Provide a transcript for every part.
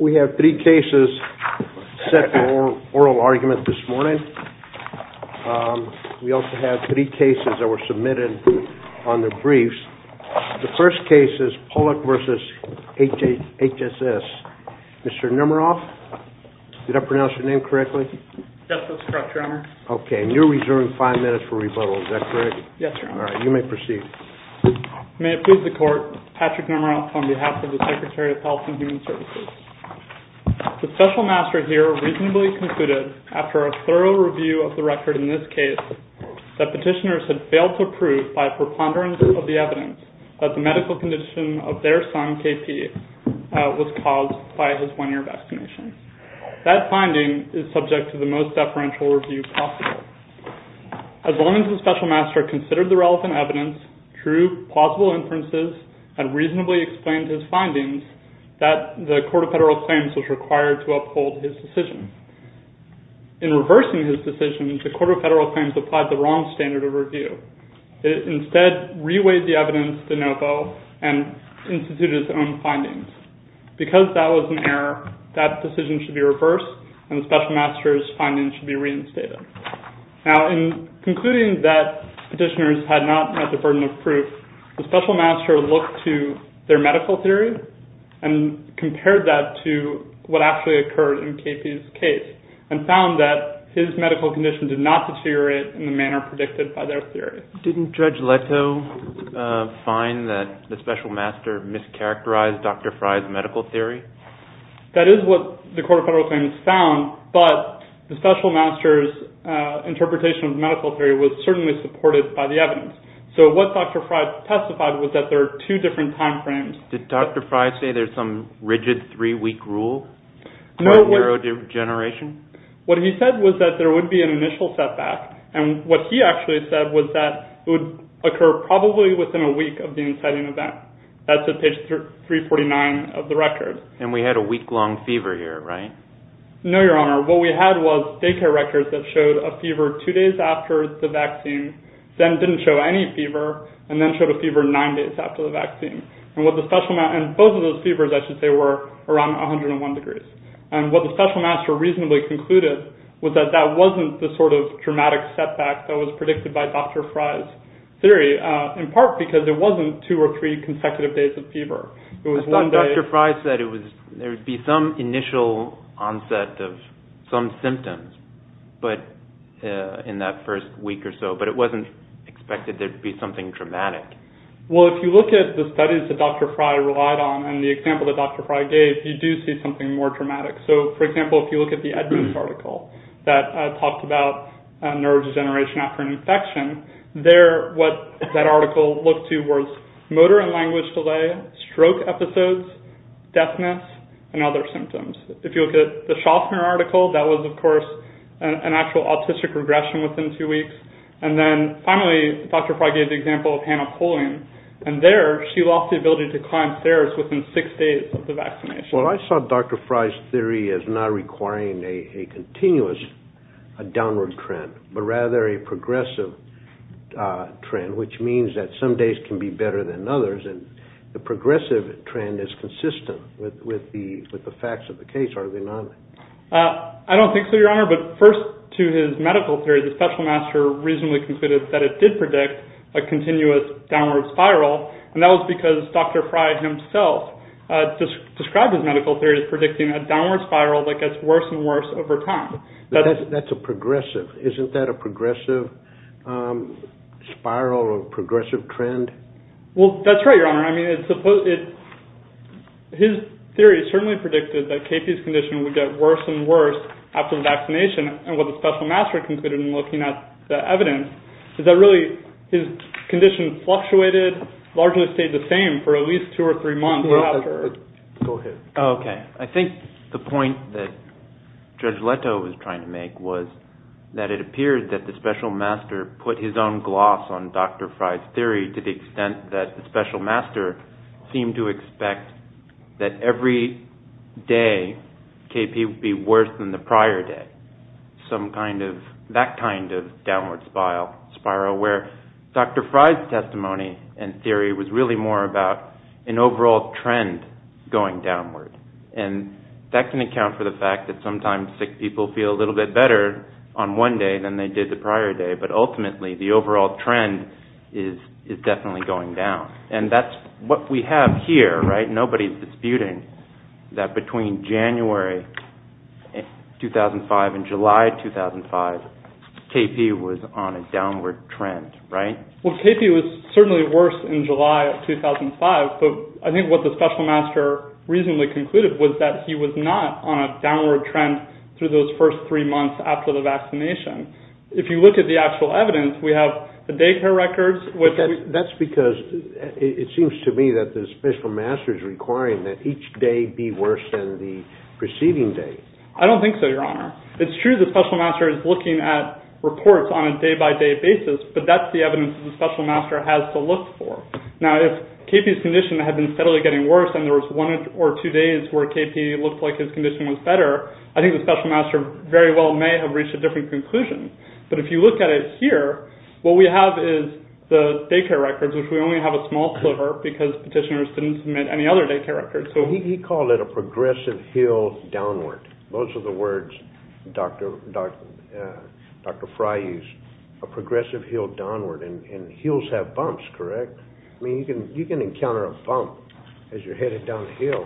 We have three cases set for oral argument this morning. We also have three cases that were submitted on the briefs. The first case is Pollack v. HHS. Mr. Nemeroff, did I pronounce your name correctly? Yes, that's correct, Your Honor. Okay, and you're reserving five minutes for rebuttal. Is that correct? Yes, Your Honor. All right, you may proceed. May it please the Court, Patrick Nemeroff on behalf of the Secretary of Health and Human Services. The Special Master here reasonably concluded, after a thorough review of the record in this case, that petitioners had failed to prove by a preponderance of the evidence that the medical condition of their son, K.P., was caused by his one-year vaccination. That finding is subject to the most deferential review possible. As long as the Special Master considered the relevant evidence, true, plausible inferences, and reasonably explained his findings, the Court of Federal Claims was required to uphold his decision. In reversing his decision, the Court of Federal Claims applied the wrong standard of review. It instead reweighed the evidence de novo and instituted its own findings. Because that was an error, that decision should be reversed and the Special Master's findings should be reinstated. Now, in concluding that petitioners had not met the burden of proof, the Special Master looked to their medical theory and compared that to what actually occurred in K.P.'s case and found that his medical condition did not deteriorate in the manner predicted by their theory. Didn't Judge Leto find that the Special Master mischaracterized Dr. Fry's medical theory? That is what the Court of Federal Claims found, but the Special Master's interpretation of medical theory was certainly supported by the evidence. So what Dr. Fry testified was that there are two different time frames. Did Dr. Fry say there's some rigid three-week rule for neurodegeneration? What he said was that there would be an initial setback, and what he actually said was that it would occur probably within a week of the inciting event. That's at page 349 of the record. And we had a week-long fever here, right? No, Your Honor. What we had was daycare records that showed a fever two days after the vaccine, then didn't show any fever, and then showed a fever nine days after the vaccine. And both of those fevers, I should say, were around 101 degrees. And what the Special Master reasonably concluded was that that wasn't the sort of dramatic setback that was predicted by Dr. Fry's theory, in part because there wasn't two or three consecutive days of fever. Dr. Fry said there would be some initial onset of some symptoms in that first week or so, but it wasn't expected there to be something dramatic. Well, if you look at the studies that Dr. Fry relied on and the example that Dr. Fry gave, you do see something more dramatic. So, for example, if you look at the Edmonds article that talked about neurodegeneration after an infection, there what that article looked to was motor and language delay, stroke episodes, deafness, and other symptoms. If you look at the Schaffner article, that was, of course, an actual autistic regression within two weeks. And then, finally, Dr. Fry gave the example of hemophilia, and there she lost the ability to climb stairs within six days of the vaccination. Well, I saw Dr. Fry's theory as not requiring a continuous downward trend, but rather a progressive trend, which means that some days can be better than others, and the progressive trend is consistent with the facts of the case, are they not? I don't think so, Your Honor, but first to his medical theory, the special master reasonably concluded that it did predict a continuous downward spiral, and that was because Dr. Fry himself described his medical theory as predicting a downward spiral that gets worse and worse over time. That's a progressive. Isn't that a progressive spiral or progressive trend? Well, that's right, Your Honor. I mean, his theory certainly predicted that KP's condition would get worse and worse after the vaccination, and what the special master concluded in looking at the evidence is that really his condition fluctuated, largely stayed the same for at least two or three months. I think the point that Judge Leto was trying to make was that it appeared that the special master put his own gloss on Dr. Fry's theory to the extent that the special master seemed to expect that every day KP would be worse than the prior day, that kind of downward spiral, where Dr. Fry's testimony and theory was really more about an overall trend going downward, and that can account for the fact that sometimes sick people feel a little bit better on one day than they did the prior day, but ultimately the overall trend is definitely going down, and that's what we have here, right? Nobody's disputing that between January 2005 and July 2005, KP was on a downward trend, right? Well, KP was certainly worse in July of 2005, but I think what the special master reasonably concluded was that he was not on a downward trend through those first three months after the vaccination. If you look at the actual evidence, we have the daycare records. That's because it seems to me that the special master is requiring that each day be worse than the preceding day. I don't think so, Your Honor. It's true the special master is looking at reports on a day-by-day basis, but that's the evidence that the special master has to look for. Now, if KP's condition had been steadily getting worse and there was one or two days where KP looked like his condition was better, I think the special master very well may have reached a different conclusion, but if you look at it here, what we have is the daycare records, which we only have a small sliver because petitioners didn't submit any other daycare records. He called it a progressive hill downward. Those are the words Dr. Fry used, a progressive hill downward, and hills have bumps, correct? I mean, you can encounter a bump as you're headed down a hill.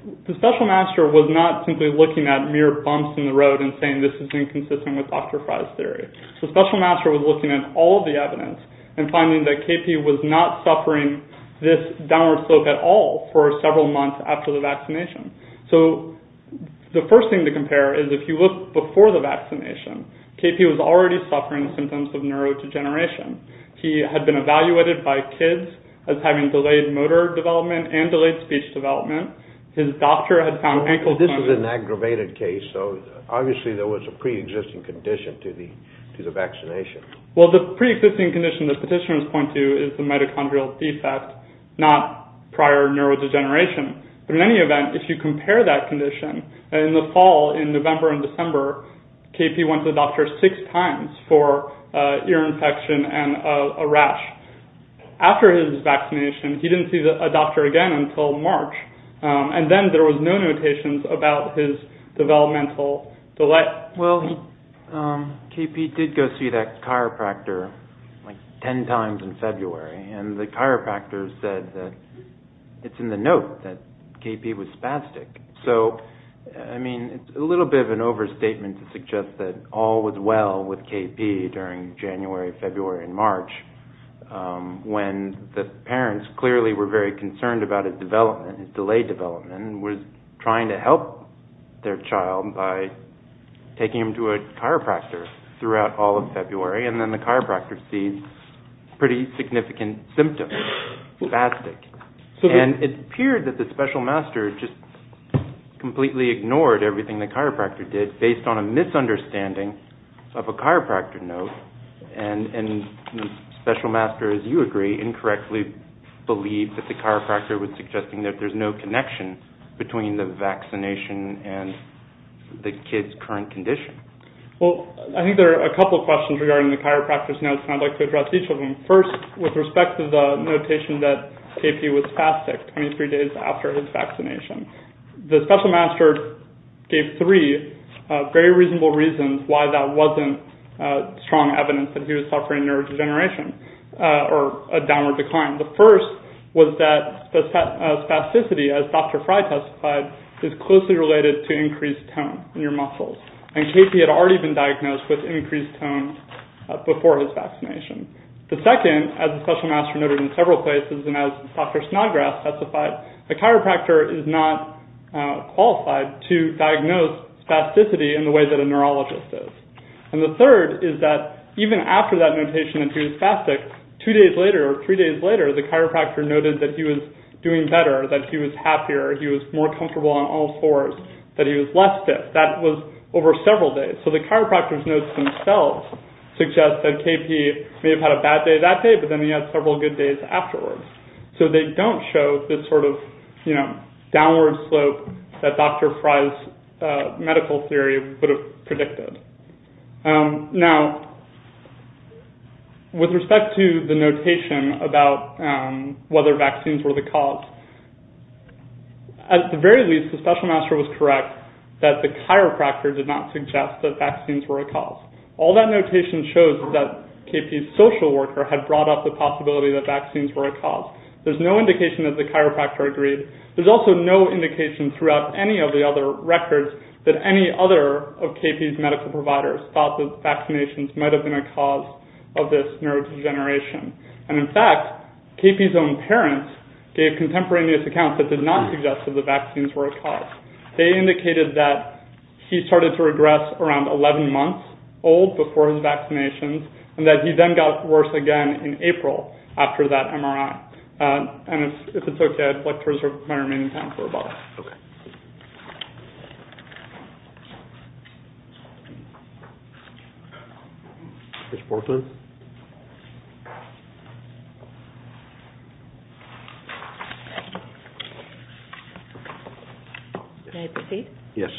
The special master was not simply looking at mere bumps in the road and saying this is inconsistent with Dr. Fry's theory. The special master was looking at all of the evidence and finding that KP was not suffering this downward slope at all for several months after the vaccination. So the first thing to compare is if you look before the vaccination, KP was already suffering symptoms of neurodegeneration. He had been evaluated by kids as having delayed motor development and delayed speech development. His doctor had found ankle pain. This is an aggravated case, so obviously there was a preexisting condition to the vaccination. Well, the preexisting condition the petitioners point to is the mitochondrial defect, not prior neurodegeneration. But in any event, if you compare that condition, in the fall, in November and December, KP went to the doctor six times for ear infection and a rash. After his vaccination, he didn't see a doctor again until March, and then there was no notations about his developmental delay. Well, KP did go see that chiropractor like 10 times in February, and the chiropractor said that it's in the note that KP was spastic. So, I mean, it's a little bit of an overstatement to suggest that all was well with KP during January, February, and March, when the parents clearly were very concerned about his delay development and were trying to help their child by taking him to a chiropractor throughout all of February, and then the chiropractor sees pretty significant symptoms, spastic. And it appeared that the special master just completely ignored everything the chiropractor did based on a misunderstanding of a chiropractor note, and the special master, as you agree, incorrectly believed that the chiropractor was suggesting that there's no connection between the vaccination and the kid's current condition. Well, I think there are a couple of questions regarding the chiropractor's notes, and I'd like to address each of them. First, with respect to the notation that KP was spastic 23 days after his vaccination, the special master gave three very reasonable reasons why that wasn't strong evidence that he was suffering neurodegeneration or a downward decline. The first was that spasticity, as Dr. Fry testified, is closely related to increased tone in your muscles, and KP had already been diagnosed with increased tone before his vaccination. The second, as the special master noted in several places, and as Dr. Snodgrass specified, the chiropractor is not qualified to diagnose spasticity in the way that a neurologist is. And the third is that even after that notation that he was spastic, two days later or three days later, the chiropractor noted that he was doing better, that he was happier, he was more comfortable on all fours, that he was less stiff. That was over several days. So the chiropractor's notes themselves suggest that KP may have had a bad day that day, but then he had several good days afterwards. So they don't show this sort of downward slope that Dr. Fry's medical theory would have predicted. Now, with respect to the notation about whether vaccines were the cause, at the very least, the special master was correct that the chiropractor did not suggest that vaccines were a cause. All that notation shows that KP's social worker had brought up the possibility that vaccines were a cause. There's no indication that the chiropractor agreed. There's also no indication throughout any of the other records that any other of KP's medical providers thought that vaccinations might have been a cause of this neurodegeneration. And in fact, KP's own parents gave contemporaneous accounts that did not suggest that the vaccines were a cause. They indicated that he started to regress around 11 months old before his vaccinations, and that he then got worse again in April after that MRI. And if it's okay, I'd like to reserve my remaining time for a moment. Okay. Ms. Portman? May I proceed? Yes.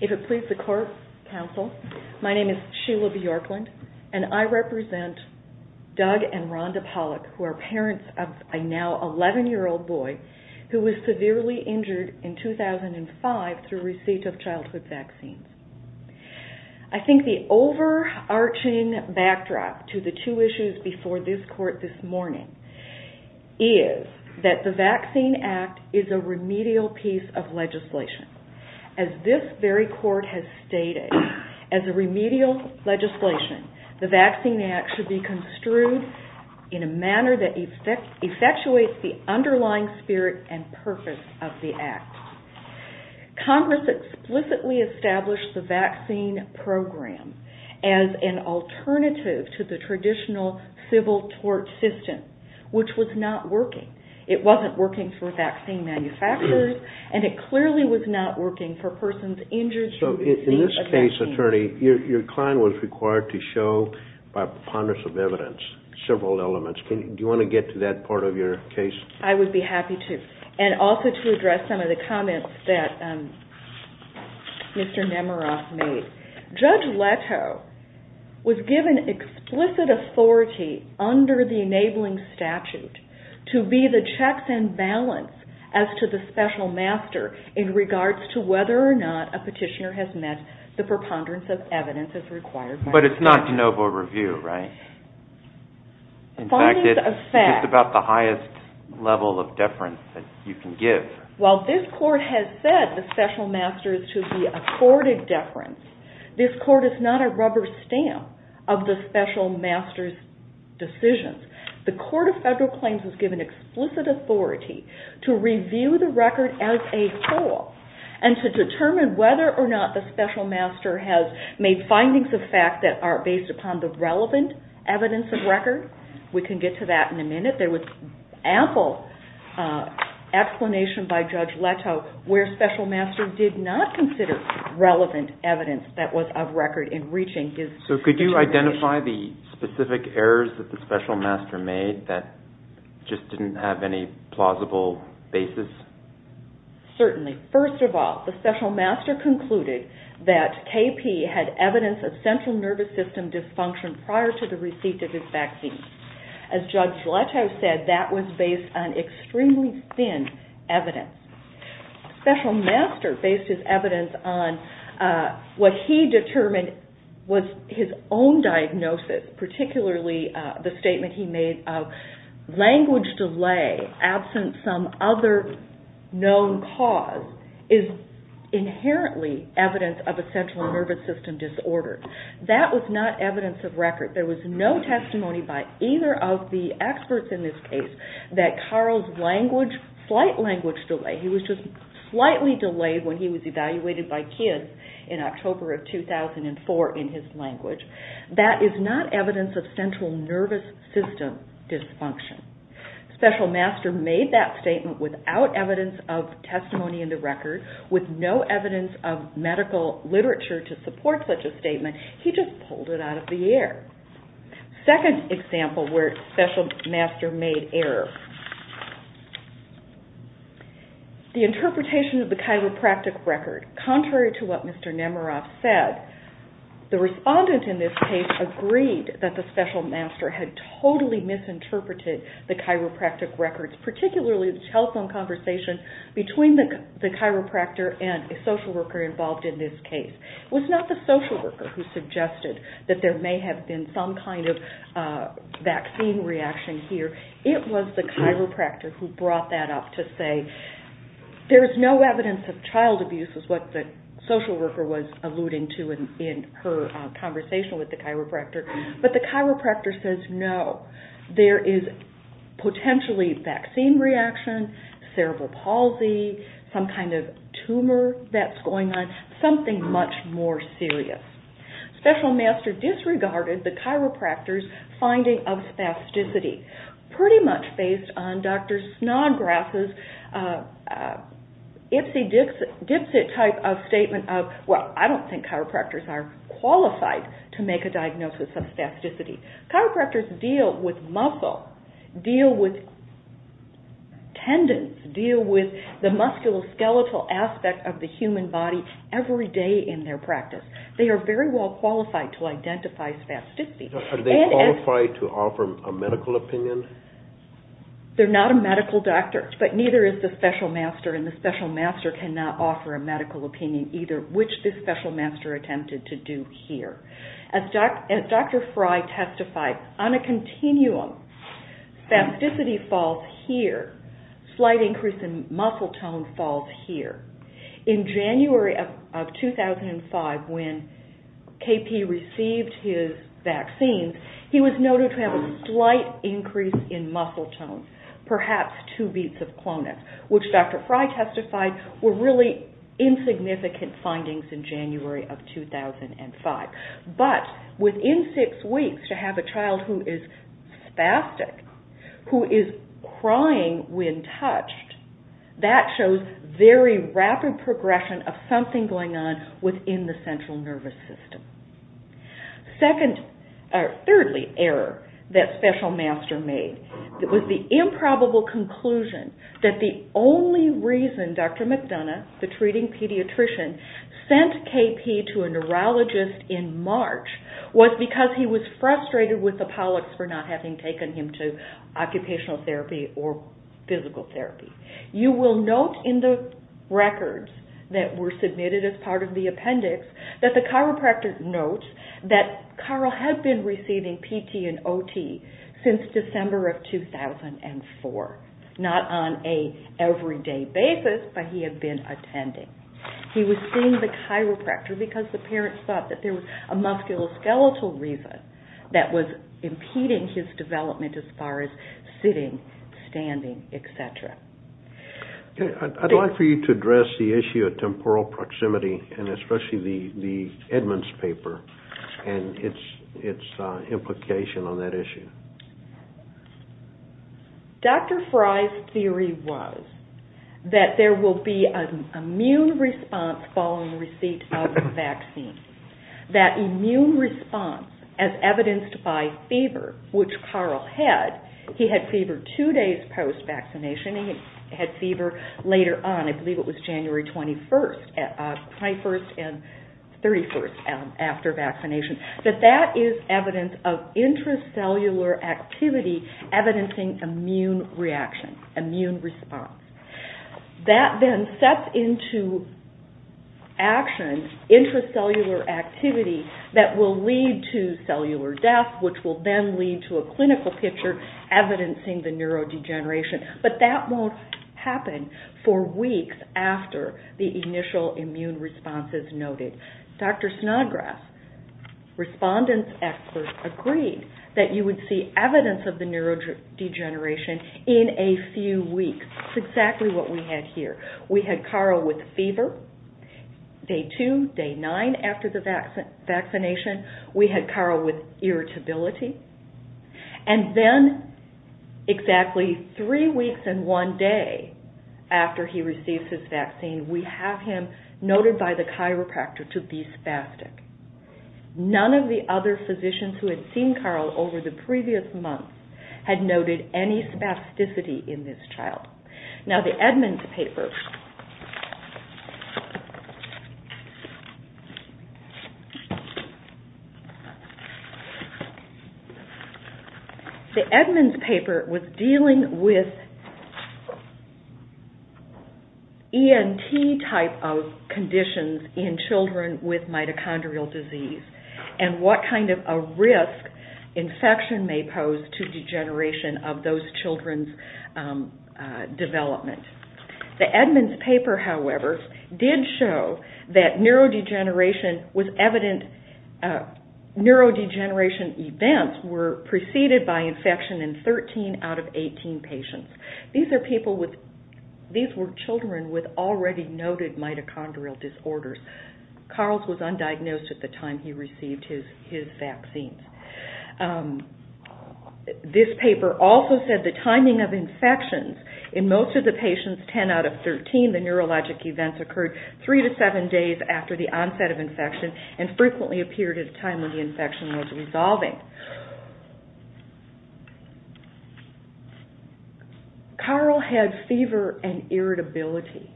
If it pleases the court, counsel, my name is Sheila Bjorklund, and I represent Doug and Rhonda Pollock, who are parents of a now 11-year-old boy who was severely injured in 2005 through receipt of childhood vaccines. I think the overarching backdrop to the two issues before this court this morning is that the Vaccine Act is a remedial piece of legislation. As this very court has stated, as a remedial legislation, the Vaccine Act should be construed in a manner that effectuates the underlying spirit and purpose of the Act. Congress explicitly established the vaccine program as an alternative to the traditional civil tort system, which was not working. It wasn't working for vaccine manufacturers, and it clearly was not working for persons injured through receipt of vaccines. Case Attorney, your client was required to show by preponderance of evidence several elements. Do you want to get to that part of your case? I would be happy to, and also to address some of the comments that Mr. Nemeroff made. Judge Leto was given explicit authority under the enabling statute to be the checks and balance as to the special master in regards to whether or not a petitioner has met the preponderance of evidence as required by the statute. But it's not de novo review, right? In fact, it's about the highest level of deference that you can give. While this court has said the special master is to be accorded deference, this court is not a rubber stamp of the special master's decisions. The Court of Federal Claims was given explicit authority to review the record as a whole and to determine whether or not the special master has made findings of fact that are based upon the relevant evidence of record. We can get to that in a minute. There was ample explanation by Judge Leto where special master did not consider relevant evidence that was of record in reaching his determination. So could you identify the specific errors that the special master made that just didn't have any plausible basis? Certainly. First of all, the special master concluded that KP had evidence of central nervous system dysfunction prior to the receipt of his vaccine. As Judge Leto said, that was based on extremely thin evidence. Special master based his evidence on what he determined was his own diagnosis, particularly the statement he made of language delay absent some other known cause is inherently evidence of a central nervous system disorder. That was not evidence of record. There was no testimony by either of the experts in this case that Carl's slight language delay, he was just slightly delayed when he was evaluated by kids in October of 2004 in his language, that is not evidence of central nervous system dysfunction. Special master made that statement without evidence of testimony in the record, with no evidence of medical literature to support such a statement. He just pulled it out of the air. Second example where special master made error. The interpretation of the chiropractic record, contrary to what Mr. Nemeroff said, the respondent in this case agreed that the special master had totally misinterpreted the chiropractic records, particularly the telephone conversation between the chiropractor and a social worker involved in this case. It was not the social worker who suggested that there may have been some kind of vaccine reaction here, it was the chiropractor who brought that up to say there is no evidence of child abuse, which is what the social worker was alluding to in her conversation with the chiropractor, but the chiropractor says no, there is potentially vaccine reaction, cerebral palsy, some kind of tumor that's going on, something much more serious. Special master disregarded the chiropractor's finding of spasticity, pretty much based on Dr. Snodgrass's Ipsy-Dipsy type of statement of, well, I don't think chiropractors are qualified to make a diagnosis of spasticity. Chiropractors deal with muscle, deal with tendons, deal with the musculoskeletal aspect of the human body every day in their practice. They are very well qualified to identify spasticity. Are they qualified to offer a medical opinion? They're not a medical doctor, but neither is the special master, and the special master cannot offer a medical opinion either, which this special master attempted to do here. As Dr. Fry testified, on a continuum, spasticity falls here, slight increase in muscle tone falls here. In January of 2005, when KP received his vaccine, he was noted to have a slight increase in muscle tone, perhaps two beats of Clonax, which Dr. Fry testified were really insignificant findings in January of 2005. But within six weeks, to have a child who is spastic, who is crying when touched, that shows very rapid progression of something going on within the central nervous system. Thirdly, error that special master made. It was the improbable conclusion that the only reason Dr. McDonough, the treating pediatrician, sent KP to a neurologist in March was because he was frustrated with the Pollocks for not having taken him to occupational therapy or physical therapy. You will note in the records that were submitted as part of the appendix that the chiropractor notes that Carl had been receiving PT and OT since December of 2004, not on an everyday basis, but he had been attending. He was seeing the chiropractor because the parents thought that there was a musculoskeletal reason that was impeding his development as far as sitting, standing, et cetera. I'd like for you to address the issue of temporal proximity and especially the Edmonds paper and its implication on that issue. Dr. Fry's theory was that there will be an immune response following receipt of the vaccine. That immune response, as evidenced by fever, which Carl had, he had fever two days post-vaccination. He had fever later on. I believe it was January 21st, 21st and 31st after vaccination. That that is evidence of intracellular activity evidencing immune reaction, immune response. That then sets into action intracellular activity that will lead to cellular death, which will then lead to a clinical picture evidencing the neurodegeneration, but that won't happen for weeks after the initial immune response is noted. Dr. Snodgrass, respondent expert, agreed that you would see evidence of the neurodegeneration in a few weeks. That's exactly what we had here. We had Carl with fever day two, day nine after the vaccination. We had Carl with irritability. And then exactly three weeks and one day after he received his vaccine, we have him noted by the chiropractor to be spastic. None of the other physicians who had seen Carl over the previous months had noted any spasticity in this child. Now, the Edmonds paper. The Edmonds paper was dealing with ENT type of conditions in children with mitochondrial disease and what kind of a risk infection may pose to degeneration of those children's development. The Edmonds paper, however, did show that neurodegeneration was evident. Neurodegeneration events were preceded by infection in 13 out of 18 patients. These were children with already noted mitochondrial disorders. Carl's was undiagnosed at the time he received his vaccine. This paper also said the timing of infections. In most of the patients, 10 out of 13, the neurologic events occurred three to seven days after the onset of infection and frequently appeared at a time when the infection was resolving. Carl had fever and irritability.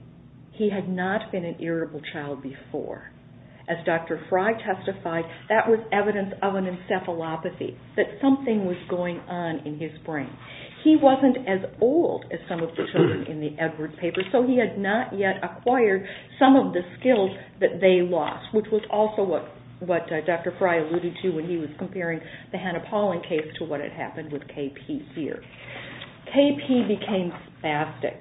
He had not been an irritable child before. As Dr. Frey testified, that was evidence of an encephalopathy, that something was going on in his brain. He wasn't as old as some of the children in the Edwards paper, so he had not yet acquired some of the skills that they lost, which was also what Dr. Frey alluded to when he was comparing the Hannah-Pauling case to what had happened with KP here. KP became spastic.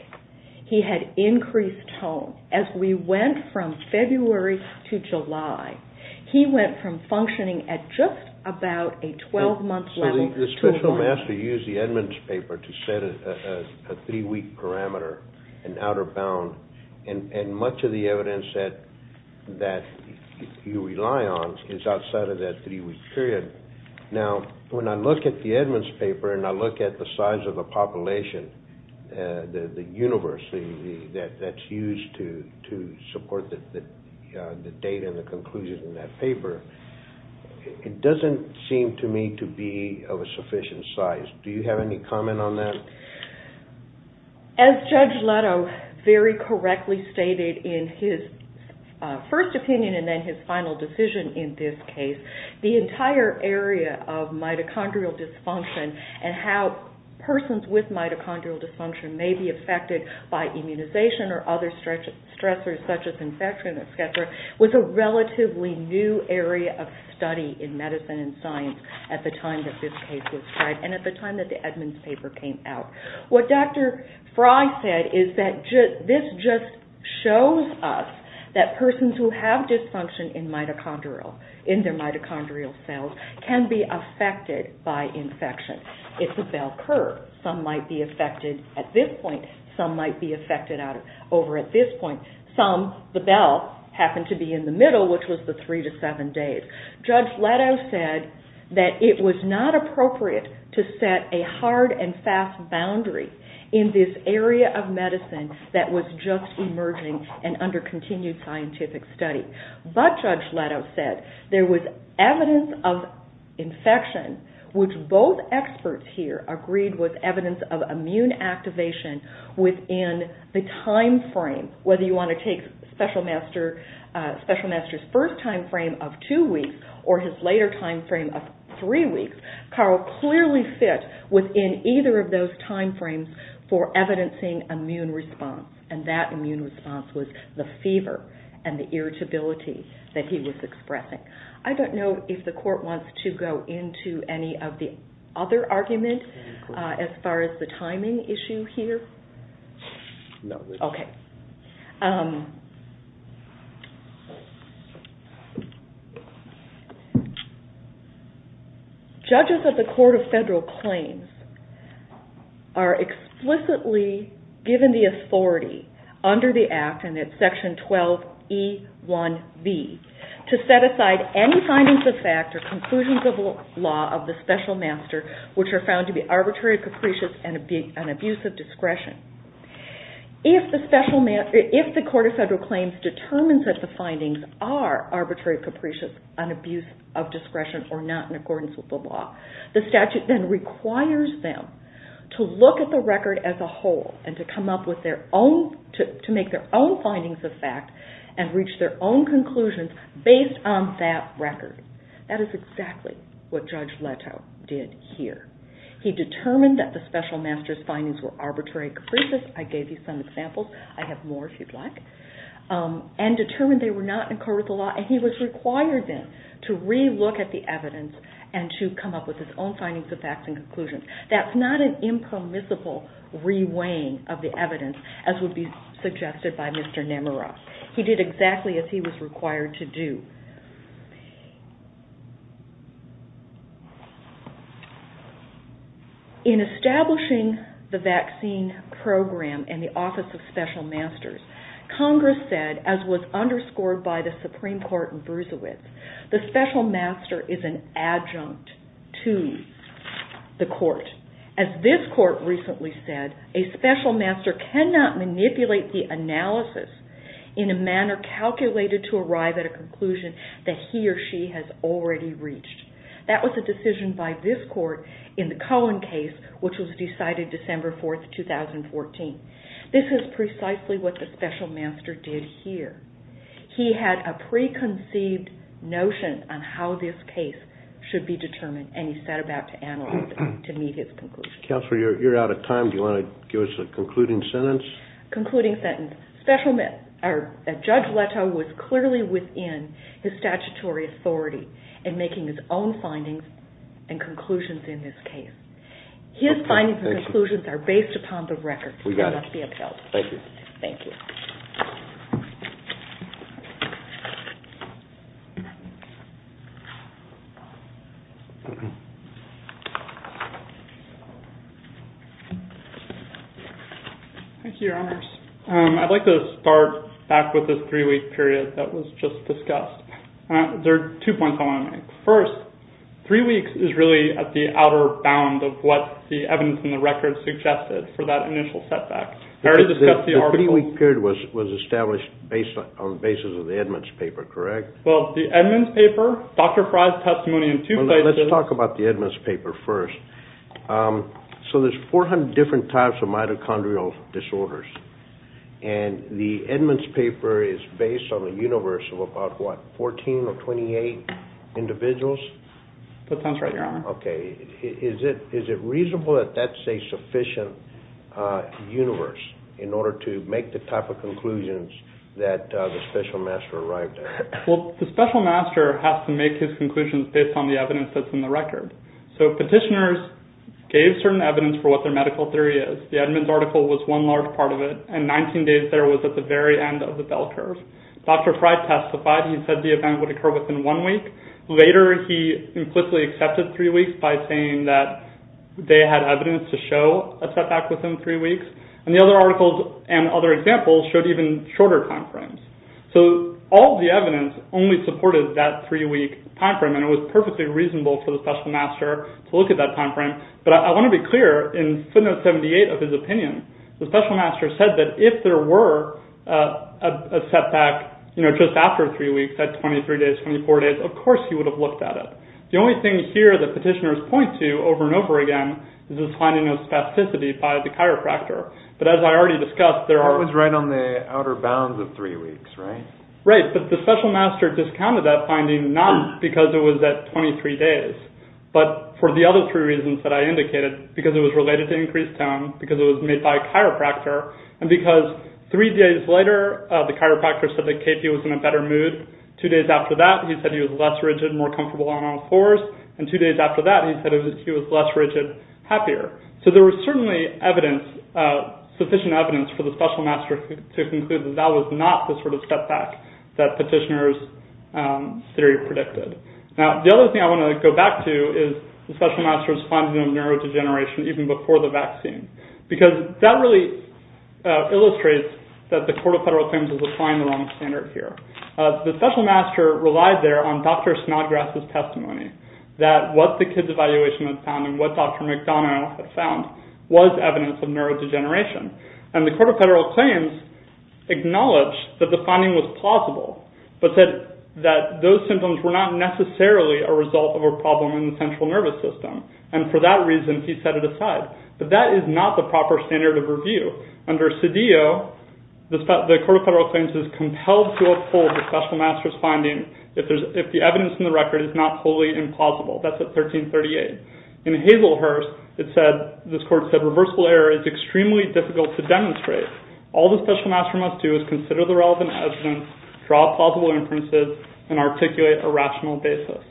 He had increased tone. As we went from February to July, he went from functioning at just about a 12-month level. So the special master used the Edmonds paper to set a three-week parameter, an outer bound, and much of the evidence that you rely on is outside of that three-week period. Now, when I look at the Edmonds paper and I look at the size of the population, the universe that's used to support the data and the conclusions in that paper, it doesn't seem to me to be of a sufficient size. Do you have any comment on that? As Judge Leto very correctly stated in his first opinion and then his final decision in this case, the entire area of mitochondrial dysfunction and how persons with mitochondrial dysfunction may be affected by immunization or other stressors such as infection, was a relatively new area of study in medicine and science at the time that this case was tried and at the time that the Edmonds paper came out. What Dr. Frey said is that this just shows us that persons who have dysfunction in their mitochondrial cells can be affected by infection. It's a bell curve. Some might be affected at this point. Some might be affected over at this point. Some, the bell, happened to be in the middle, which was the three to seven days. Judge Leto said that it was not appropriate to set a hard and fast boundary in this area of medicine that was just emerging and under continued scientific study. But Judge Leto said there was evidence of infection, which both experts here agreed was evidence of immune activation within the time frame, whether you want to take Special Master's first time frame of two weeks or his later time frame of three weeks, Carl clearly fit within either of those time frames for evidencing immune response. And that immune response was the fever and the irritability that he was expressing. I don't know if the court wants to go into any of the other arguments as far as the timing issue here. Okay. Judges of the Court of Federal Claims are explicitly given the authority under the Act, and it's Section 12E1B, to set aside any findings of fact or conclusions of law of the Special Master which are found to be arbitrary, capricious, and an abuse of discretion. If the Court of Federal Claims determines that the findings are arbitrary, capricious, an abuse of discretion, or not in accordance with the law, the statute then requires them to look at the record as a whole and to come up with their own, to make their own findings of fact and reach their own conclusions based on that record. That is exactly what Judge Leto did here. He determined that the Special Master's findings were arbitrary, capricious. I gave you some examples. I have more if you'd like. And determined they were not in accordance with the law, and he was required then to re-look at the evidence and to come up with his own findings of fact and conclusions. That's not an impermissible re-weighing of the evidence, as would be suggested by Mr. Nemiroff. He did exactly as he was required to do. In establishing the vaccine program in the Office of Special Masters, Congress said, as was underscored by the Supreme Court in Brunswick, the Special Master is an adjunct to the court. As this court recently said, a Special Master cannot manipulate the analysis in a manner calculated to arrive at a conclusion that he or she has already reached. That was a decision by this court in the Cohen case, which was decided December 4, 2014. This is precisely what the Special Master did here. He had a preconceived notion on how this case should be determined, and he set about to analyze it to meet his conclusions. Counselor, you're out of time. Do you want to give us a concluding sentence? Concluding sentence. Special Master, Judge Leto, was clearly within his statutory authority in making his own findings and conclusions in this case. His findings and conclusions are based upon the record. They must be upheld. Thank you. Thank you. Thank you, Your Honors. I'd like to start back with the three-week period that was just discussed. There are two points I want to make. First, three weeks is really at the outer bound of what the evidence in the record suggested for that initial setback. The three-week period was established on the basis of the Edmonds paper, correct? Well, the Edmonds paper, Dr. Fry's testimony in two places. Let's talk about the Edmonds paper first. So there's 400 different types of mitochondrial disorders, and the Edmonds paper is based on the universe of about, what, That sounds right, Your Honor. Okay. Is it reasonable that that's a sufficient universe in order to make the type of conclusions that the Special Master arrived at? Well, the Special Master has to make his conclusions based on the evidence that's in the record. So petitioners gave certain evidence for what their medical theory is. The Edmonds article was one large part of it, and 19 days there was at the very end of the bell curve. Dr. Fry testified. He said the event would occur within one week. Later, he implicitly accepted three weeks by saying that they had evidence to show a setback within three weeks. And the other articles and other examples showed even shorter time frames. So all the evidence only supported that three-week time frame, and it was perfectly reasonable for the Special Master to look at that time frame. But I want to be clear, in footnote 78 of his opinion, the Special Master said that if there were a setback, you know, just after three weeks, at 23 days, 24 days, of course he would have looked at it. The only thing here that petitioners point to over and over again is this finding of spasticity by the chiropractor. But as I already discussed, there are— That was right on the outer bounds of three weeks, right? Right, but the Special Master discounted that finding not because it was at 23 days, but for the other three reasons that I indicated, because it was related to increased tone, because it was made by a chiropractor, and because three days later, the chiropractor said that KP was in a better mood. Two days after that, he said he was less rigid, more comfortable on all fours. And two days after that, he said he was less rigid, happier. So there was certainly sufficient evidence for the Special Master to conclude that that was not the sort of setback that petitioners' theory predicted. Now, the other thing I want to go back to is the Special Master's finding of neurodegeneration even before the vaccine, because that really illustrates that the Court of Federal Claims is applying the wrong standard here. The Special Master relied there on Dr. Snodgrass's testimony that what the kids' evaluation had found and what Dr. McDonough had found was evidence of neurodegeneration. And the Court of Federal Claims acknowledged that the finding was plausible, but said that those symptoms were not necessarily a result of a problem in the central nervous system. And for that reason, he set it aside. But that is not the proper standard of review. Under CEDEO, the Court of Federal Claims is compelled to uphold the Special Master's finding if the evidence in the record is not totally implausible. That's at 1338. In Hazelhurst, this Court said, reversible error is extremely difficult to demonstrate. All the Special Master must do is consider the relevant evidence, draw plausible inferences, and articulate a rational basis.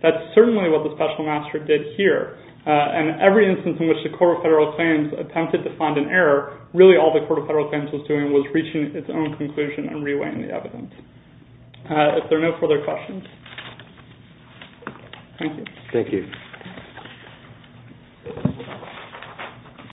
That's certainly what the Special Master did here. And every instance in which the Court of Federal Claims attempted to find an error, really all the Court of Federal Claims was doing was reaching its own conclusion and rewriting the evidence. If there are no further questions... Thank you. Thank you.